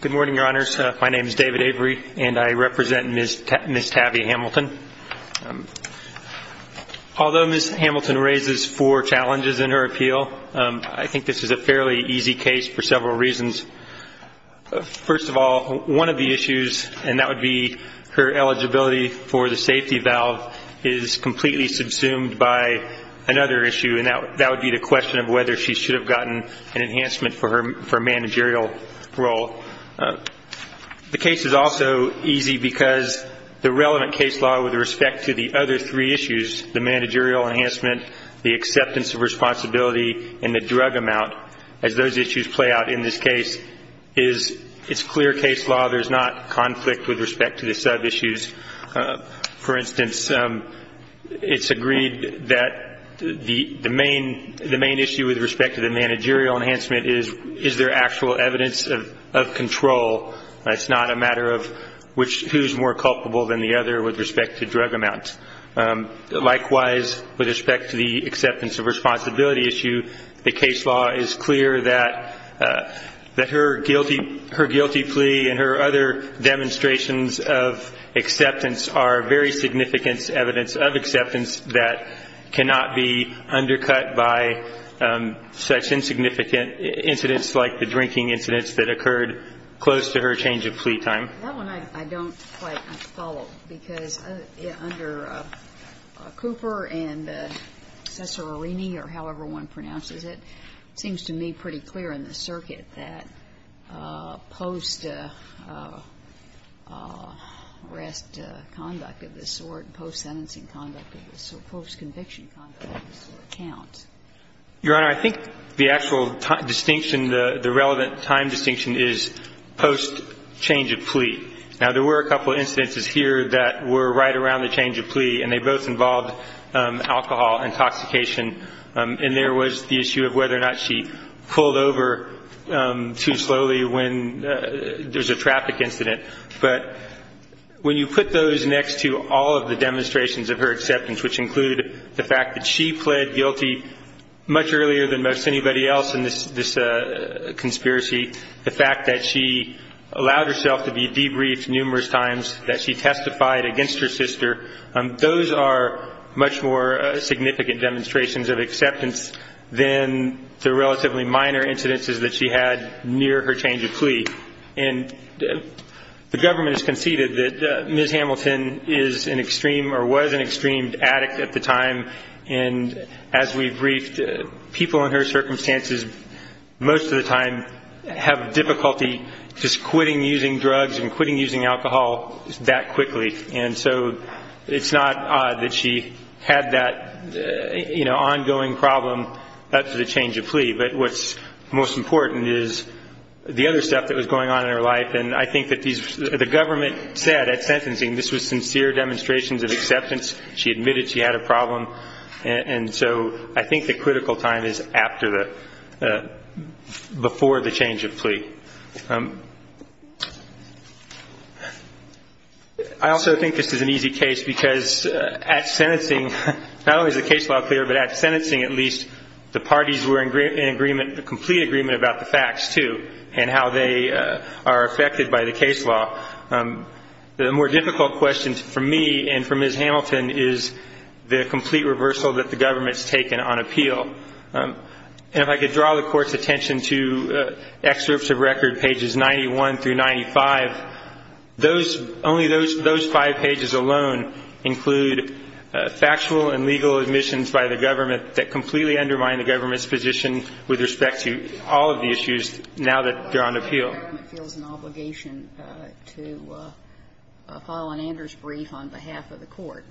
Good morning, Your Honors. My name is David Avery, and I represent Ms. Tavia Hamilton. Although Ms. Hamilton raises four challenges in her appeal, I think this is a fairly easy case for several reasons. First of all, one of the issues, and that would be her eligibility for the safety valve, is completely subsumed by another issue, and that would be the question of whether she should have gotten an enhancement for her managerial role. The case is also easy because the relevant case law with respect to the other three issues, the managerial enhancement, the acceptance of responsibility, and the drug amount, as those issues play out in this case, it's clear case law. There's not conflict with respect to the sub-issues. For instance, it's agreed that the main issue with respect to the managerial enhancement is, is there actual evidence of control? It's not a matter of who's more culpable than the other with respect to drug amount. Likewise, with respect to the acceptance of responsibility issue, the case law is clear that her guilty plea and her other demonstrations of acceptance are very significant evidence of acceptance that cannot be undercut by such insignificant incidents like the drinking incidents that occurred close to her change of plea time. That one I don't quite follow, because under Cooper and Cesarolini, or however one pronounces it, seems to me pretty clear in the circuit that post-arrest conduct of this sort, post-sentencing conduct of this sort, post-conviction conduct of this sort count. Your Honor, I think the actual distinction, the relevant time distinction is post-change of plea. Now, there were a couple of instances here that were right around the change of plea, and they both involved alcohol intoxication. And there was the issue of whether or not she pulled over too slowly when there was a traffic incident. But when you put those next to all of the demonstrations of her acceptance, which include the fact that she pled guilty much earlier than most anybody else in this conspiracy, the fact that she allowed herself to be debriefed numerous times, that she testified against her sister, those are much more significant demonstrations of acceptance than the relatively minor incidences that she had near her change of plea. And the government has conceded that Ms. Hamilton is an extreme or was an extreme addict at the time, and as we've briefed, people in her circumstances most of the time have difficulty just quitting using drugs and quitting using alcohol that quickly. And so it's not odd that she had that ongoing problem after the change of plea. But what's most important is the other stuff that was going on in her life. And I think that the government said at sentencing this was sincere demonstrations of acceptance. She admitted she had a problem. And so I think the critical time is after the – before the change of plea. I also think this is an easy case because at sentencing, not only is the case law clear, but at sentencing at least the parties were in agreement, in complete agreement about the facts, too, and how they are affected by the case law. The more difficult question for me and for Ms. Hamilton is the complete reversal that the government's taken on appeal. And if I could draw the Court's attention to excerpts of record, pages 91 through 95, those – only those five pages alone include factual and legal admissions by the government that completely undermine the government's position with respect to all of the issues now that they're on appeal. Why does the government feel it's an obligation to file an Anders brief on behalf of the Court?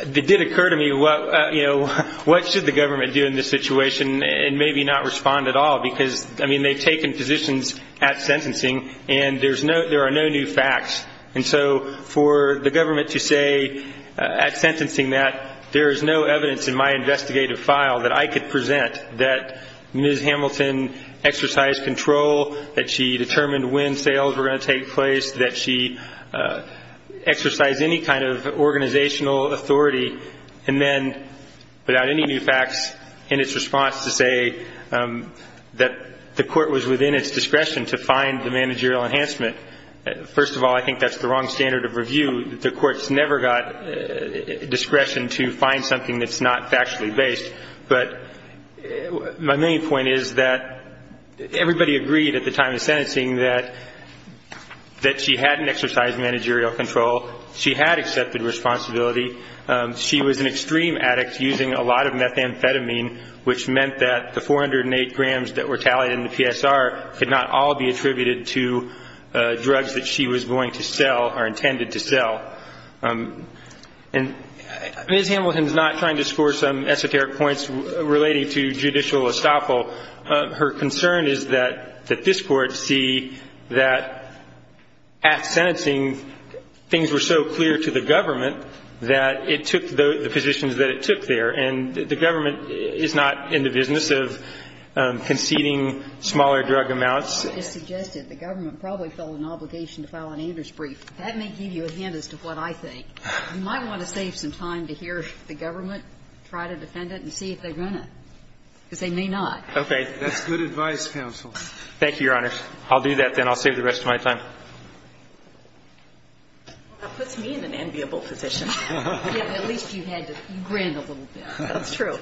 It did occur to me what, you know, what should the government do in this situation and maybe not respond at all because, I mean, they've taken positions at sentencing and there's no – there are no new facts. And so for the government to say at sentencing that there is no evidence in my investigative file that I could present that Ms. Hamilton exercised control, that she determined when sales were going to take place, that she exercised any kind of organizational authority, and then, without any new facts, in its response to say that the Court was within its discretion to find the managerial enhancement, first of all, I think that's the wrong standard of review. The Court's never got discretion to find something that's not factually based. But my main point is that everybody agreed at the time of sentencing that she hadn't exercised managerial control. She had accepted responsibility. She was an extreme addict using a lot of methamphetamine, which meant that the 408 grams that were tallied in the PSR could not all be attributed to drugs that she was going to sell or intended to sell. And Ms. Hamilton is not trying to score some esoteric points relating to judicial estoppel. Her concern is that this Court see that at sentencing things were so clear to the government that it took the positions that it took there. And the government is not in the business of conceding smaller drug amounts. It's suggested the government probably felt an obligation to file an Anders brief. That may give you a hint as to what I think. You might want to save some time to hear the government try to defend it and see if they're going to, because they may not. Okay. That's good advice, counsel. Thank you, Your Honors. I'll do that, then. I'll save the rest of my time. Well, that puts me in an enviable position. At least you had to grin a little bit. That's true.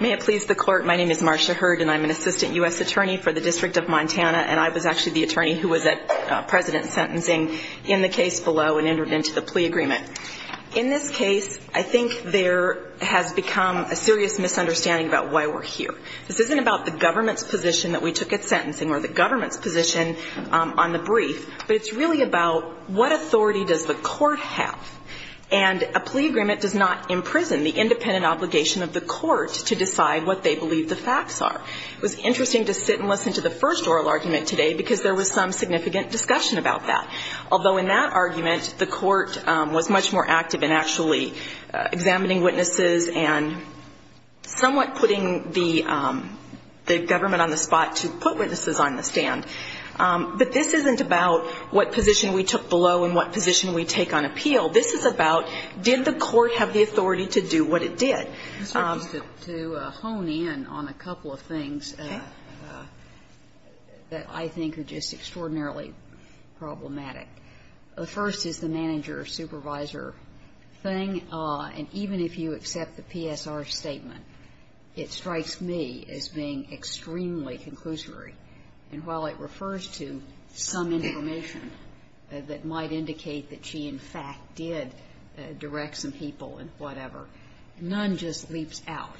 May it please the Court, my name is Marcia Hurd, and I'm an assistant U.S. attorney for the District of Montana. And I was actually the attorney who was at President's sentencing in the case below and entered into the plea agreement. In this case, I think there has become a serious misunderstanding about why we're here. This isn't about the government's position that we took at sentencing or the government's position on the brief, but it's really about what authority does the Court have. And a plea agreement does not imprison the independent obligation of the Court to decide what they believe the facts are. It was interesting to sit and listen to the first oral argument today, because there was some significant discussion about that. Although in that argument, the Court was much more active in actually examining witnesses and somewhat putting the government on the spot to put witnesses on the stand. But this isn't about what position we took below and what position we take on appeal. This is about did the Court have the authority to do what it did. Ginsburg. To hone in on a couple of things that I think are just extraordinarily problematic, the first is the manager-supervisor thing. And even if you accept the PSR statement, it strikes me as being extremely conclusory. And while it refers to some information that might indicate that she in fact did direct some people and whatever, none just leaps out.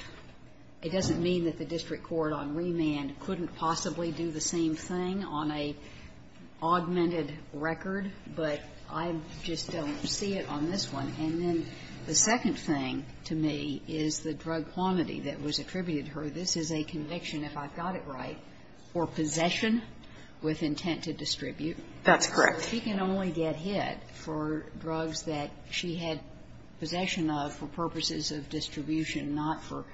It doesn't mean that the district court on remand couldn't possibly do the same thing on an augmented record, but I just don't see it on this one. And then the second thing to me is the drug quantity that was attributed to her. This is a conviction, if I've got it right, for possession with intent to distribute. That's correct. She can only get hit for drugs that she had possession of for purposes of distribution, not for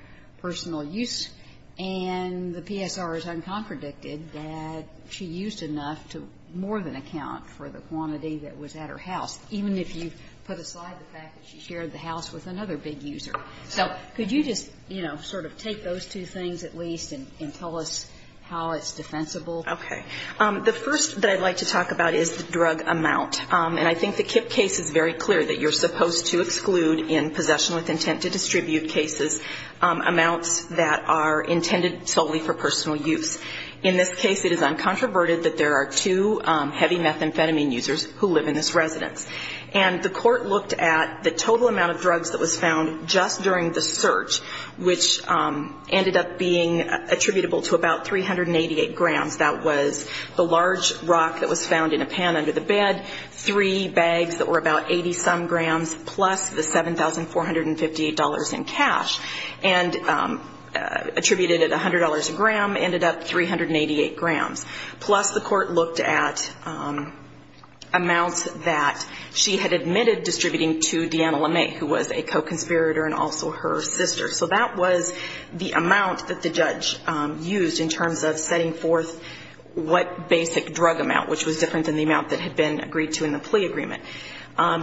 personal use. And the PSR is uncompredicted that she used enough to more than account for the quantity that was at her house, even if you put aside the fact that she shared the house with another big user. So could you just, you know, sort of take those two things at least and tell us how it's defensible? Okay. The first that I'd like to talk about is the drug amount. And I think the Kipp case is very clear that you're supposed to exclude in possession with intent to distribute cases amounts that are intended solely for personal use. In this case, it is uncontroverted that there are two heavy methamphetamine users who live in this residence. And the court looked at the total amount of drugs that was found just during the search, which ended up being attributable to about 388 grams. That was the large rock that was found in a pan under the bed, three bags that were about 80-some grams, plus the $7,458 in cash, and attributed at $100 a gram, ended up 388 grams. Plus the court looked at amounts that she had admitted distributing to Deanna LeMay, who was a co-conspirator and also her sister. So that was the amount that the judge used in terms of setting forth what basic drug amount, which was different than the amount that had been agreed to in the plea agreement.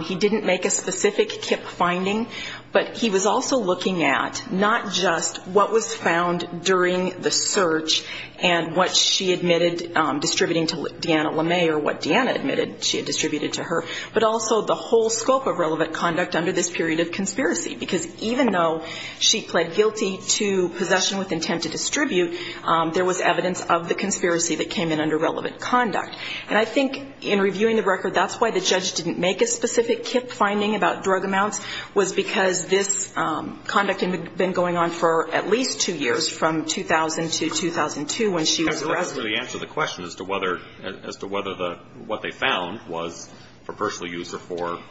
He didn't make a specific Kipp finding, but he was also looking at not just what was found during the search and what she admitted distributing to Deanna LeMay or what Deanna admitted she had distributed to her, but also the whole scope of relevant conduct under this period of conspiracy. Because even though she pled guilty to possession with intent to distribute, there was evidence of the conspiracy that came in under relevant conduct. And I think in reviewing the record, that's why the judge didn't make a specific Kipp finding about drug amounts, was because this conduct had been going on for at least two years from 2000 to 2002 when she was a resident. And that's the answer to the question as to whether the what they found was for personal use or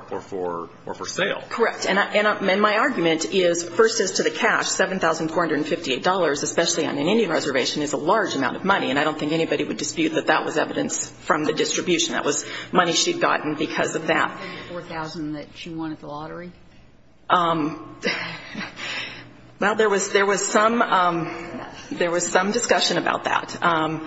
for sale. Correct. And my argument is, first, as to the cash, $7,458, especially on an Indian reservation, is a large amount of money, and I don't think anybody would dispute that that was evidence from the distribution. That was money she had gotten because of that. I think the 4,000 that she won at the lottery. Well, there was some discussion about that.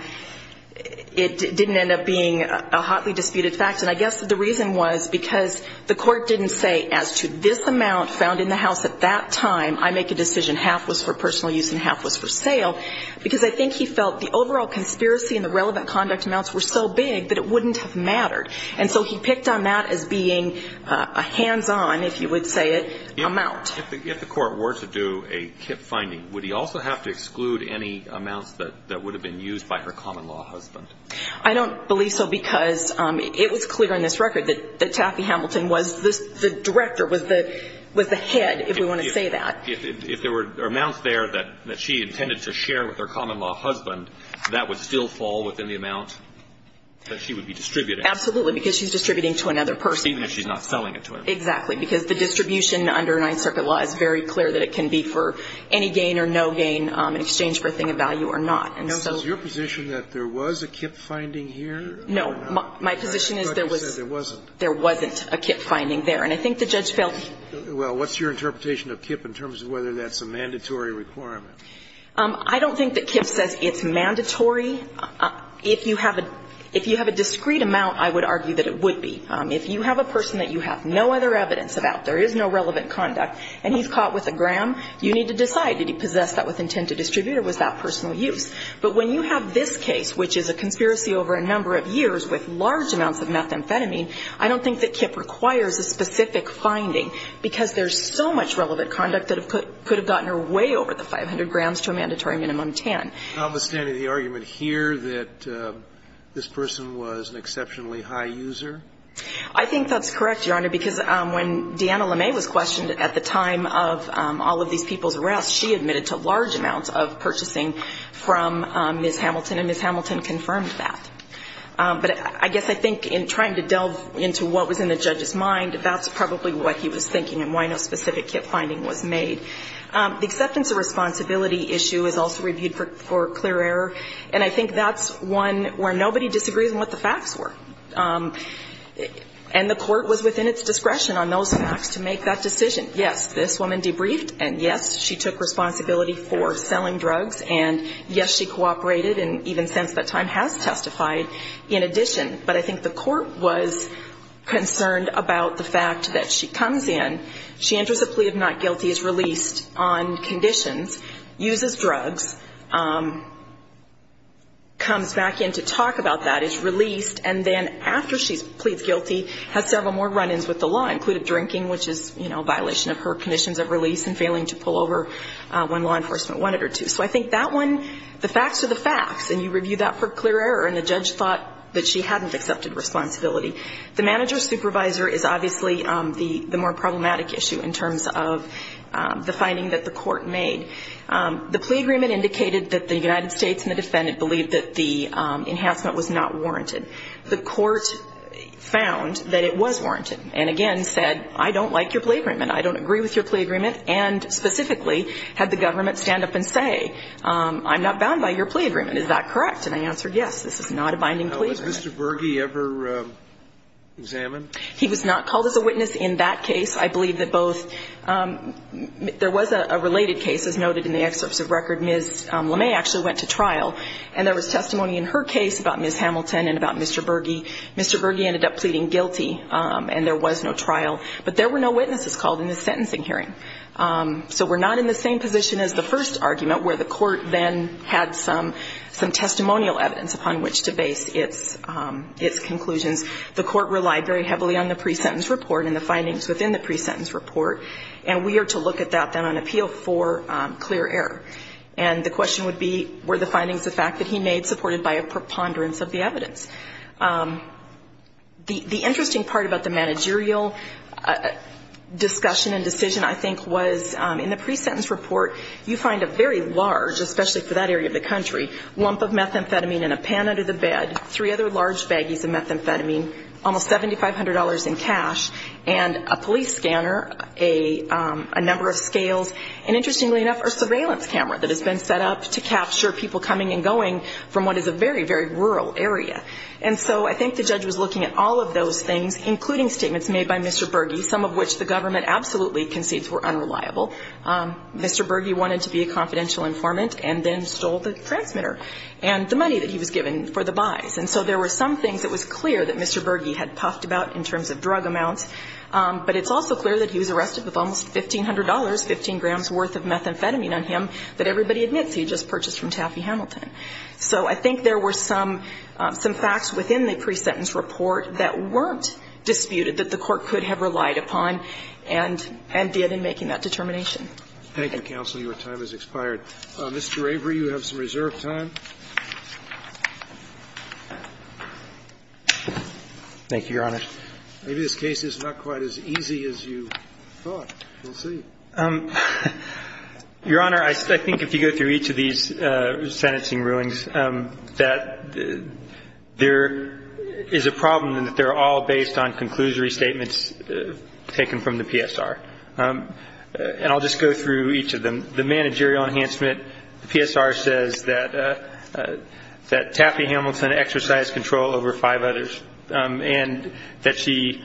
It didn't end up being a hotly disputed fact. And I guess the reason was because the Court didn't say as to this amount found in the house at that time, I make a decision, half was for personal use and half was for sale, because I think he felt the overall conspiracy and the relevant conduct amounts were so big that it wouldn't have mattered. And so he picked on that as being a hands-on, if you would say it, amount. If the Court were to do a KIPP finding, would he also have to exclude any amounts that would have been used by her common-law husband? I don't believe so because it was clear on this record that Taffy Hamilton was the director, was the head, if we want to say that. If there were amounts there that she intended to share with her common-law husband, that would still fall within the amount that she would be distributing? Absolutely, because she's distributing to another person. Even if she's not selling it to him. Exactly. Because the distribution under Ninth Circuit law is very clear that it can be for any gain or no gain in exchange for a thing of value or not. Is your position that there was a KIPP finding here or not? No. My position is there was. But you said there wasn't. There wasn't a KIPP finding there. And I think the judge felt. Well, what's your interpretation of KIPP in terms of whether that's a mandatory requirement? I don't think that KIPP says it's mandatory. If you have a discrete amount, I would argue that it would be. If you have a person that you have no other evidence about, there is no relevant conduct, and he's caught with a gram, you need to decide, did he possess that with intent to distribute or was that personal use? But when you have this case, which is a conspiracy over a number of years with large amounts of methamphetamine, I don't think that KIPP requires a specific finding, because there's so much relevant conduct that could have gotten her way over the 500 grams to a mandatory minimum of 10. Notwithstanding the argument here that this person was an exceptionally high user? I think that's correct, Your Honor, because when Deanna LeMay was questioned at the time of all of these people's arrests, she admitted to large amounts of purchasing from Ms. Hamilton, and Ms. Hamilton confirmed that. But I guess I think in trying to delve into what was in the judge's mind, that's probably what he was thinking and why no specific KIPP finding was made. The acceptance of responsibility issue is also reviewed for clear error, and I think that's one where nobody disagrees on what the facts were. And the court was within its discretion on those facts to make that decision. Yes, this woman debriefed, and yes, she took responsibility for selling drugs, and yes, she cooperated, and even since that time has testified in addition. But I think the court was concerned about the fact that she comes in, she enters a plea of not guilty, is released on conditions, uses drugs, comes back in to talk about that, is released, and then after she pleads guilty, has several more run-ins with the law, including drinking, which is a violation of her conditions of release and failing to pull over when law enforcement wanted her to. So I think that one, the facts are the facts, and you review that for clear error, and the judge thought that she hadn't accepted responsibility. The manager-supervisor is obviously the more problematic issue in terms of the finding that the court made. The plea agreement indicated that the United States and the defendant believed that the enhancement was not warranted. The court found that it was warranted, and again said, I don't like your plea agreement, I don't agree with your plea agreement, and specifically had the government stand up and say, I'm not bound by your plea agreement, is that correct? And I answered yes, this is not a binding plea agreement. So was Mr. Berge ever examined? He was not called as a witness in that case. I believe that both – there was a related case, as noted in the excerpts of record. Ms. LeMay actually went to trial, and there was testimony in her case about Ms. Hamilton and about Mr. Berge. Mr. Berge ended up pleading guilty, and there was no trial. But there were no witnesses called in the sentencing hearing. So we're not in the same position as the first argument, where the court then had some testimonial evidence upon which to base its conclusions. The court relied very heavily on the pre-sentence report and the findings within the pre-sentence report, and we are to look at that then on appeal for clear error. And the question would be, were the findings the fact that he made supported by a preponderance of the evidence? The interesting part about the managerial discussion and decision, I think, was in the pre-sentence report, you find a very large, especially for that area of the country, lump of methamphetamine in a pan under the bed, three other large baggies of methamphetamine, almost $7,500 in cash, and a police scanner, a number of scales, and interestingly enough, a surveillance camera that has been set up to capture people coming and going from what is a very, very rural area. And so I think the judge was looking at all of those things, including statements made by Mr. Berge, some of which the government absolutely concedes were unreliable. Mr. Berge wanted to be a confidential informant and then stole the transmitter and the money that he was given for the buys. And so there were some things that was clear that Mr. Berge had puffed about in terms of drug amounts, but it's also clear that he was arrested with almost $1,500, 15 grams worth of methamphetamine on him that everybody admits he just purchased from Taffy Hamilton. So I think there were some facts within the pre-sentence report that weren't disputed that the Court could have relied upon and did in making that determination Thank you, counsel. Your time has expired. Mr. Avery, you have some reserved time. Thank you, Your Honor. Maybe this case is not quite as easy as you thought. We'll see. Your Honor, I think if you go through each of these sentencing rulings, that there is a problem in that they're all based on conclusory statements taken from the PSR. And I'll just go through each of them. The managerial enhancement, the PSR says that Taffy Hamilton exercised control over five others and that she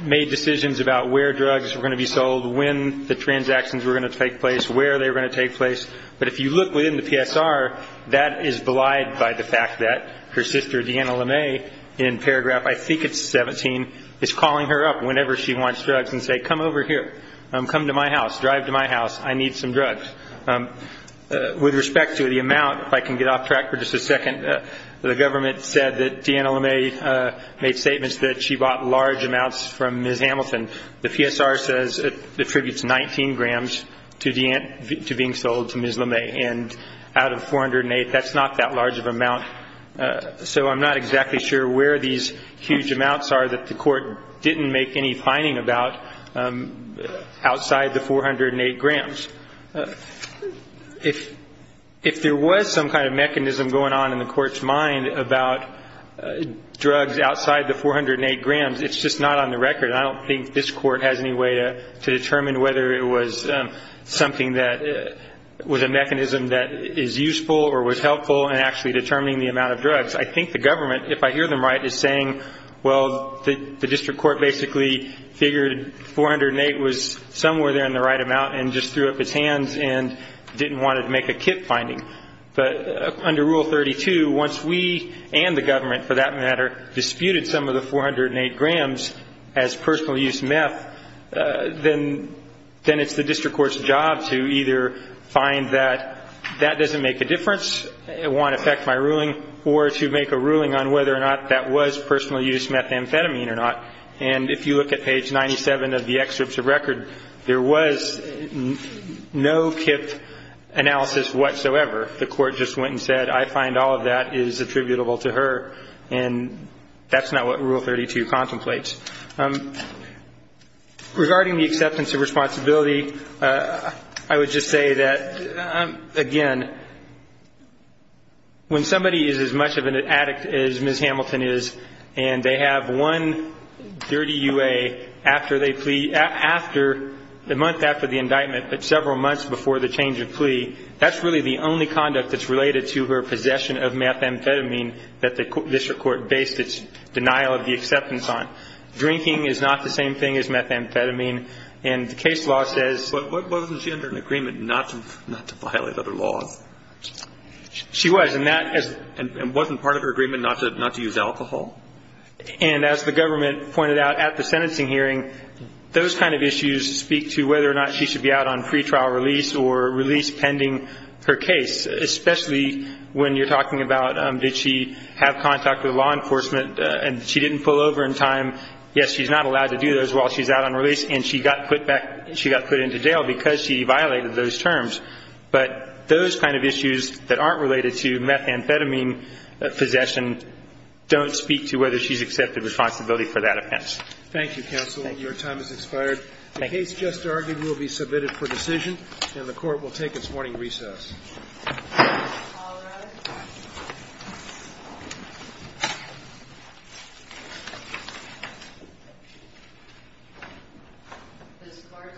made decisions about where drugs were going to be sold, when the transactions were going to take place, where they were going to take place. But if you look within the PSR, that is belied by the fact that her sister, Deanna LeMay, in paragraph, I think it's 17, is calling her up whenever she wants drugs and saying, come over here. Come to my house. Drive to my house. I need some drugs. With respect to the amount, if I can get off track for just a second, the government said that Deanna LeMay made statements that she bought large amounts from Ms. Hamilton. The PSR says it attributes 19 grams to being sold to Ms. LeMay. And out of 408, that's not that large of an amount. So I'm not exactly sure where these huge amounts are that the court didn't make any finding about outside the 408 grams. If there was some kind of mechanism going on in the court's mind about drugs outside the 408 grams, it's just not on the record, and I don't think this court has any way to determine whether it was something that was a mechanism that is useful or was helpful in actually determining the amount of drugs. I think the government, if I hear them right, is saying, well, the district court basically figured 408 was somewhere there in the right amount and just threw up its hands and didn't want to make a kit finding. But under Rule 32, once we and the government, for that matter, disputed some of the 408 grams as personal use meth, then it's the district court's job to either find that that doesn't make a difference, it won't affect my ruling, or to make a ruling on whether or not that was personal use methamphetamine or not. And if you look at page 97 of the excerpts of record, there was no KIPP analysis whatsoever. The court just went and said, I find all of that is attributable to her, and that's not what Rule 32 contemplates. Regarding the acceptance of responsibility, I would just say that, again, when somebody is as much of an addict as Ms. Hamilton is, and they have one dirty UA after the month after the indictment, but several months before the change of plea, that's really the only conduct that's related to her possession of methamphetamine that the district court based its denial of the acceptance on. Drinking is not the same thing as methamphetamine, and the case law says... But wasn't she under an agreement not to violate other laws? She was, and that... And wasn't part of her agreement not to use alcohol? And as the government pointed out at the sentencing hearing, those kind of issues speak to whether or not she should be out on pretrial release or release pending her case, especially when you're talking about did she have contact with law enforcement and she didn't pull over in time? Yes, she's not allowed to do those while she's out on release, and she got put into jail because she violated those terms. But those kind of issues that aren't related to methamphetamine possession don't speak to whether she's accepted responsibility for that offense. Thank you, counsel. Your time has expired. The case just argued will be submitted for decision, and the Court will take its morning recess. All rise. This Court stands in recess.